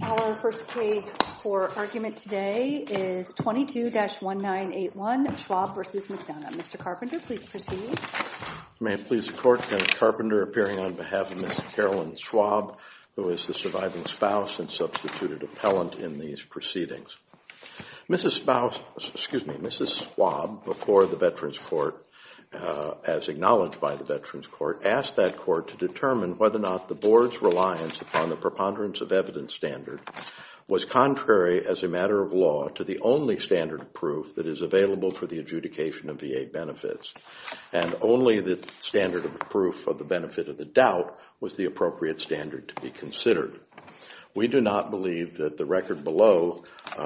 Our first case for argument today is 22-1981, Schwab v. McDonough. Mr. Carpenter, please proceed. May it please the Court, Kenneth Carpenter appearing on behalf of Ms. Carolyn Schwab, who is the surviving spouse and substituted appellant in these proceedings. Mrs. Schwab, before the Veterans Court, as acknowledged by the Veterans Court, asked that Court to determine whether or not the Board's reliance upon the preponderance of evidence standard was contrary as a matter of law to the only standard of proof that is available for the adjudication of VA benefits, and only the standard of proof of the benefit of the doubt was the appropriate standard to be considered. We do not believe that the record below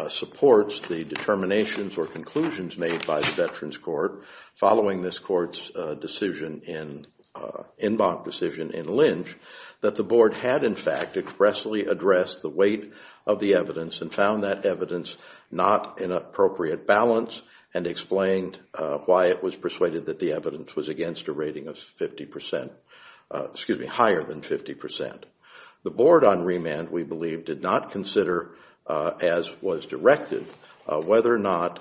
supports the determinations or conclusions made by the Veterans Court following this Court's inbox decision in Lynch that the Board had, in fact, expressly addressed the weight of the evidence and found that evidence not in appropriate balance and explained why it was persuaded that the evidence was against a rating of higher than 50 percent. The Board on remand, we believe, did not consider, as was directed, whether or not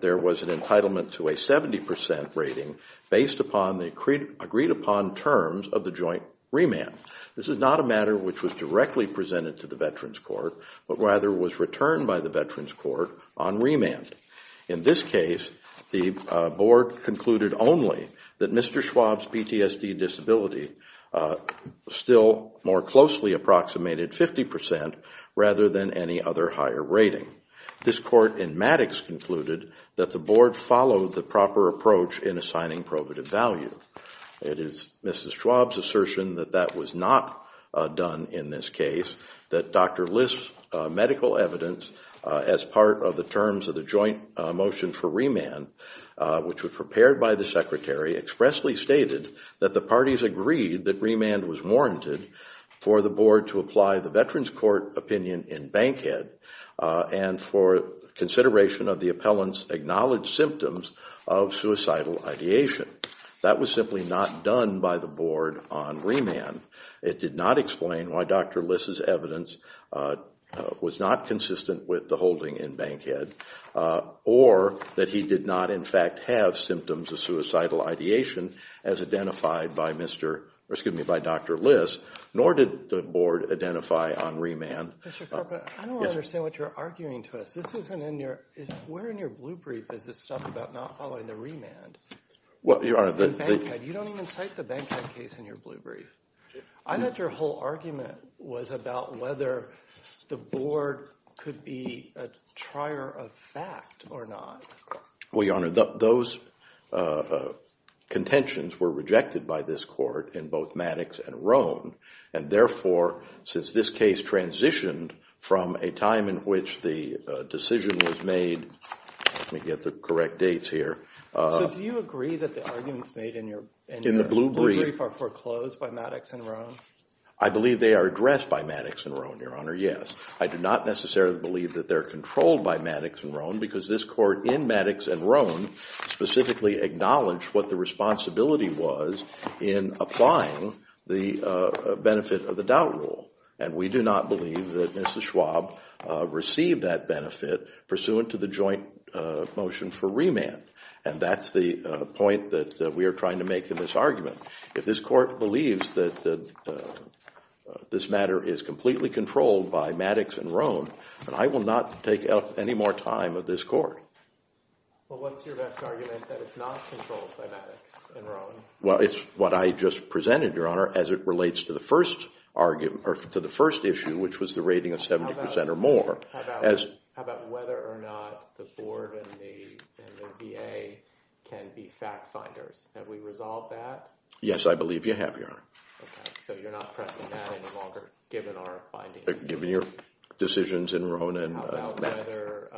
there was an entitlement to a 70 percent rating based upon the agreed-upon terms of the joint remand. This is not a matter which was directly presented to the Veterans Court, but rather was returned by the Veterans Court on remand. In this case, the Board concluded only that Mr. Schwab's PTSD disability still more closely approximated 50 percent rather than any other higher rating. This Court in Maddox concluded that the Board followed the proper approach in assigning probative value. It is Mrs. Schwab's assertion that that was not done in this case, that Dr. List's medical evidence as part of the terms of the joint motion for remand, which was prepared by the Secretary, expressly stated that the parties agreed that remand was warranted for the Board to apply the Veterans Court opinion in Bankhead and for consideration of the appellant's acknowledged symptoms of suicidal ideation. That was simply not done by the Board on remand. It did not explain why Dr. List's evidence was not consistent with the holding in Bankhead or that he did not in fact have symptoms of suicidal ideation as identified by Dr. List, nor did the Board identify on remand. Mr. Carpenter, I don't understand what you're arguing to us. Where in your blue brief is this stuff about not following the remand? You don't even cite the Bankhead case in your blue brief. I thought your whole argument was about whether the Board could be a trier of fact or not. Well, Your Honor, those contentions were rejected by this Court in both Maddox and Rohn, and therefore, since this case transitioned from a time in which the decision was made, let me get the correct dates here. So do you agree that the arguments made in your blue brief are foreclosed by Maddox and Rohn? I believe they are addressed by Maddox and Rohn, Your Honor, yes. I do not necessarily believe that they're controlled by Maddox and Rohn because this Court in Maddox and Rohn specifically acknowledged what the responsibility was in applying the benefit of the doubt rule, and we do not believe that Mrs. Schwab received that benefit pursuant to the joint motion for remand, and that's the point that we are trying to make in this argument. If this Court believes that this matter is completely controlled by Maddox and Rohn, then I will not take up any more time of this Court. Well, what's your best argument that it's not controlled by Maddox and Rohn? Well, it's what I just presented, Your Honor, as it relates to the first argument or to the first issue, which was the rating of 70 percent or more. How about whether or not the Board and the VA can be fact finders? Have we resolved that? Yes, I believe you have, Your Honor. Okay, so you're not pressing that any longer, given our findings. Given your decisions in Rohn and Maddox. How about whether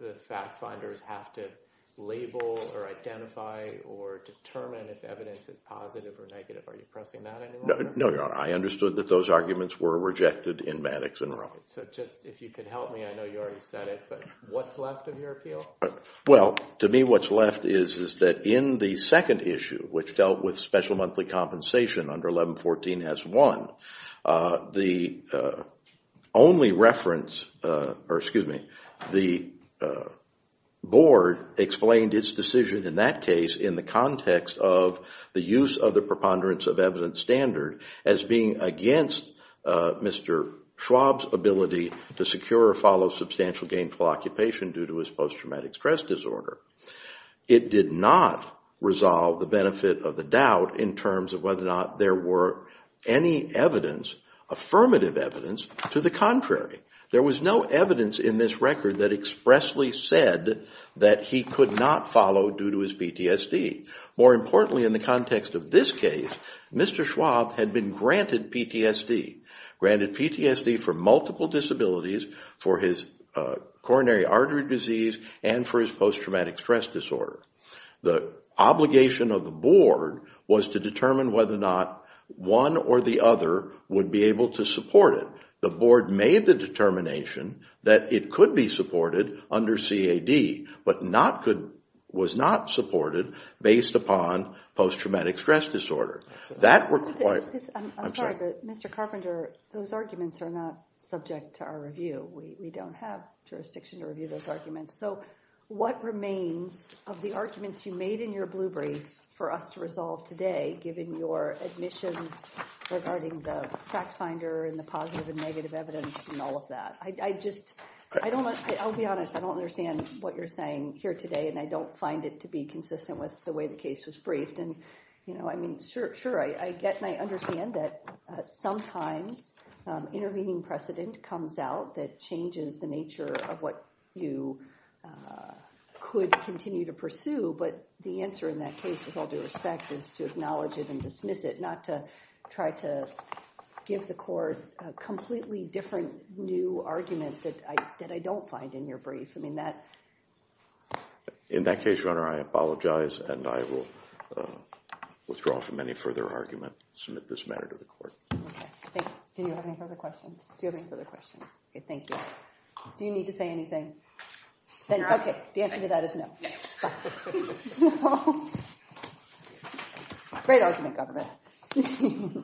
the fact finders have to label or identify or determine if evidence is positive or negative? Are you pressing that anymore? No, Your Honor. I understood that those arguments were rejected in Maddox and Rohn. So just, if you could help me, I know you already said it, but what's left of your appeal? Well, to me what's is that in the second issue, which dealt with special monthly compensation under 1114 S. 1, the only reference, or excuse me, the Board explained its decision in that case in the context of the use of the preponderance of evidence standard as being against Mr. Schwab's ability to secure or follow substantial gainful occupation due to his post-traumatic stress disorder. It did not resolve the benefit of the doubt in terms of whether or not there were any evidence, affirmative evidence, to the contrary. There was no evidence in this record that expressly said that he could not follow due to his PTSD. More importantly, in the context of this case, Mr. Schwab had been granted PTSD. Granted PTSD for multiple disabilities, for his coronary stress disorder. The obligation of the Board was to determine whether or not one or the other would be able to support it. The Board made the determination that it could be supported under CAD, but was not supported based upon post-traumatic stress disorder. I'm sorry, but Mr. Carpenter, those arguments are not subject to our review. We don't have of the arguments you made in your blue brief for us to resolve today, given your admissions regarding the fact finder and the positive and negative evidence and all of that. I'll be honest, I don't understand what you're saying here today, and I don't find it to be consistent with the way the case was briefed. Sure, I get and I understand that sometimes intervening precedent comes out that changes the nature of what you could continue to pursue, but the answer in that case, with all due respect, is to acknowledge it and dismiss it, not to try to give the court a completely different new argument that I don't find in your brief. In that case, Your Honor, I apologize and I will withdraw from any further argument, submit this matter to the court. Okay, thank you. Do you have any further questions? Do you have any further questions? Okay, thank you. Do you need to say anything? Okay, the answer to that is no. Great argument, Governor.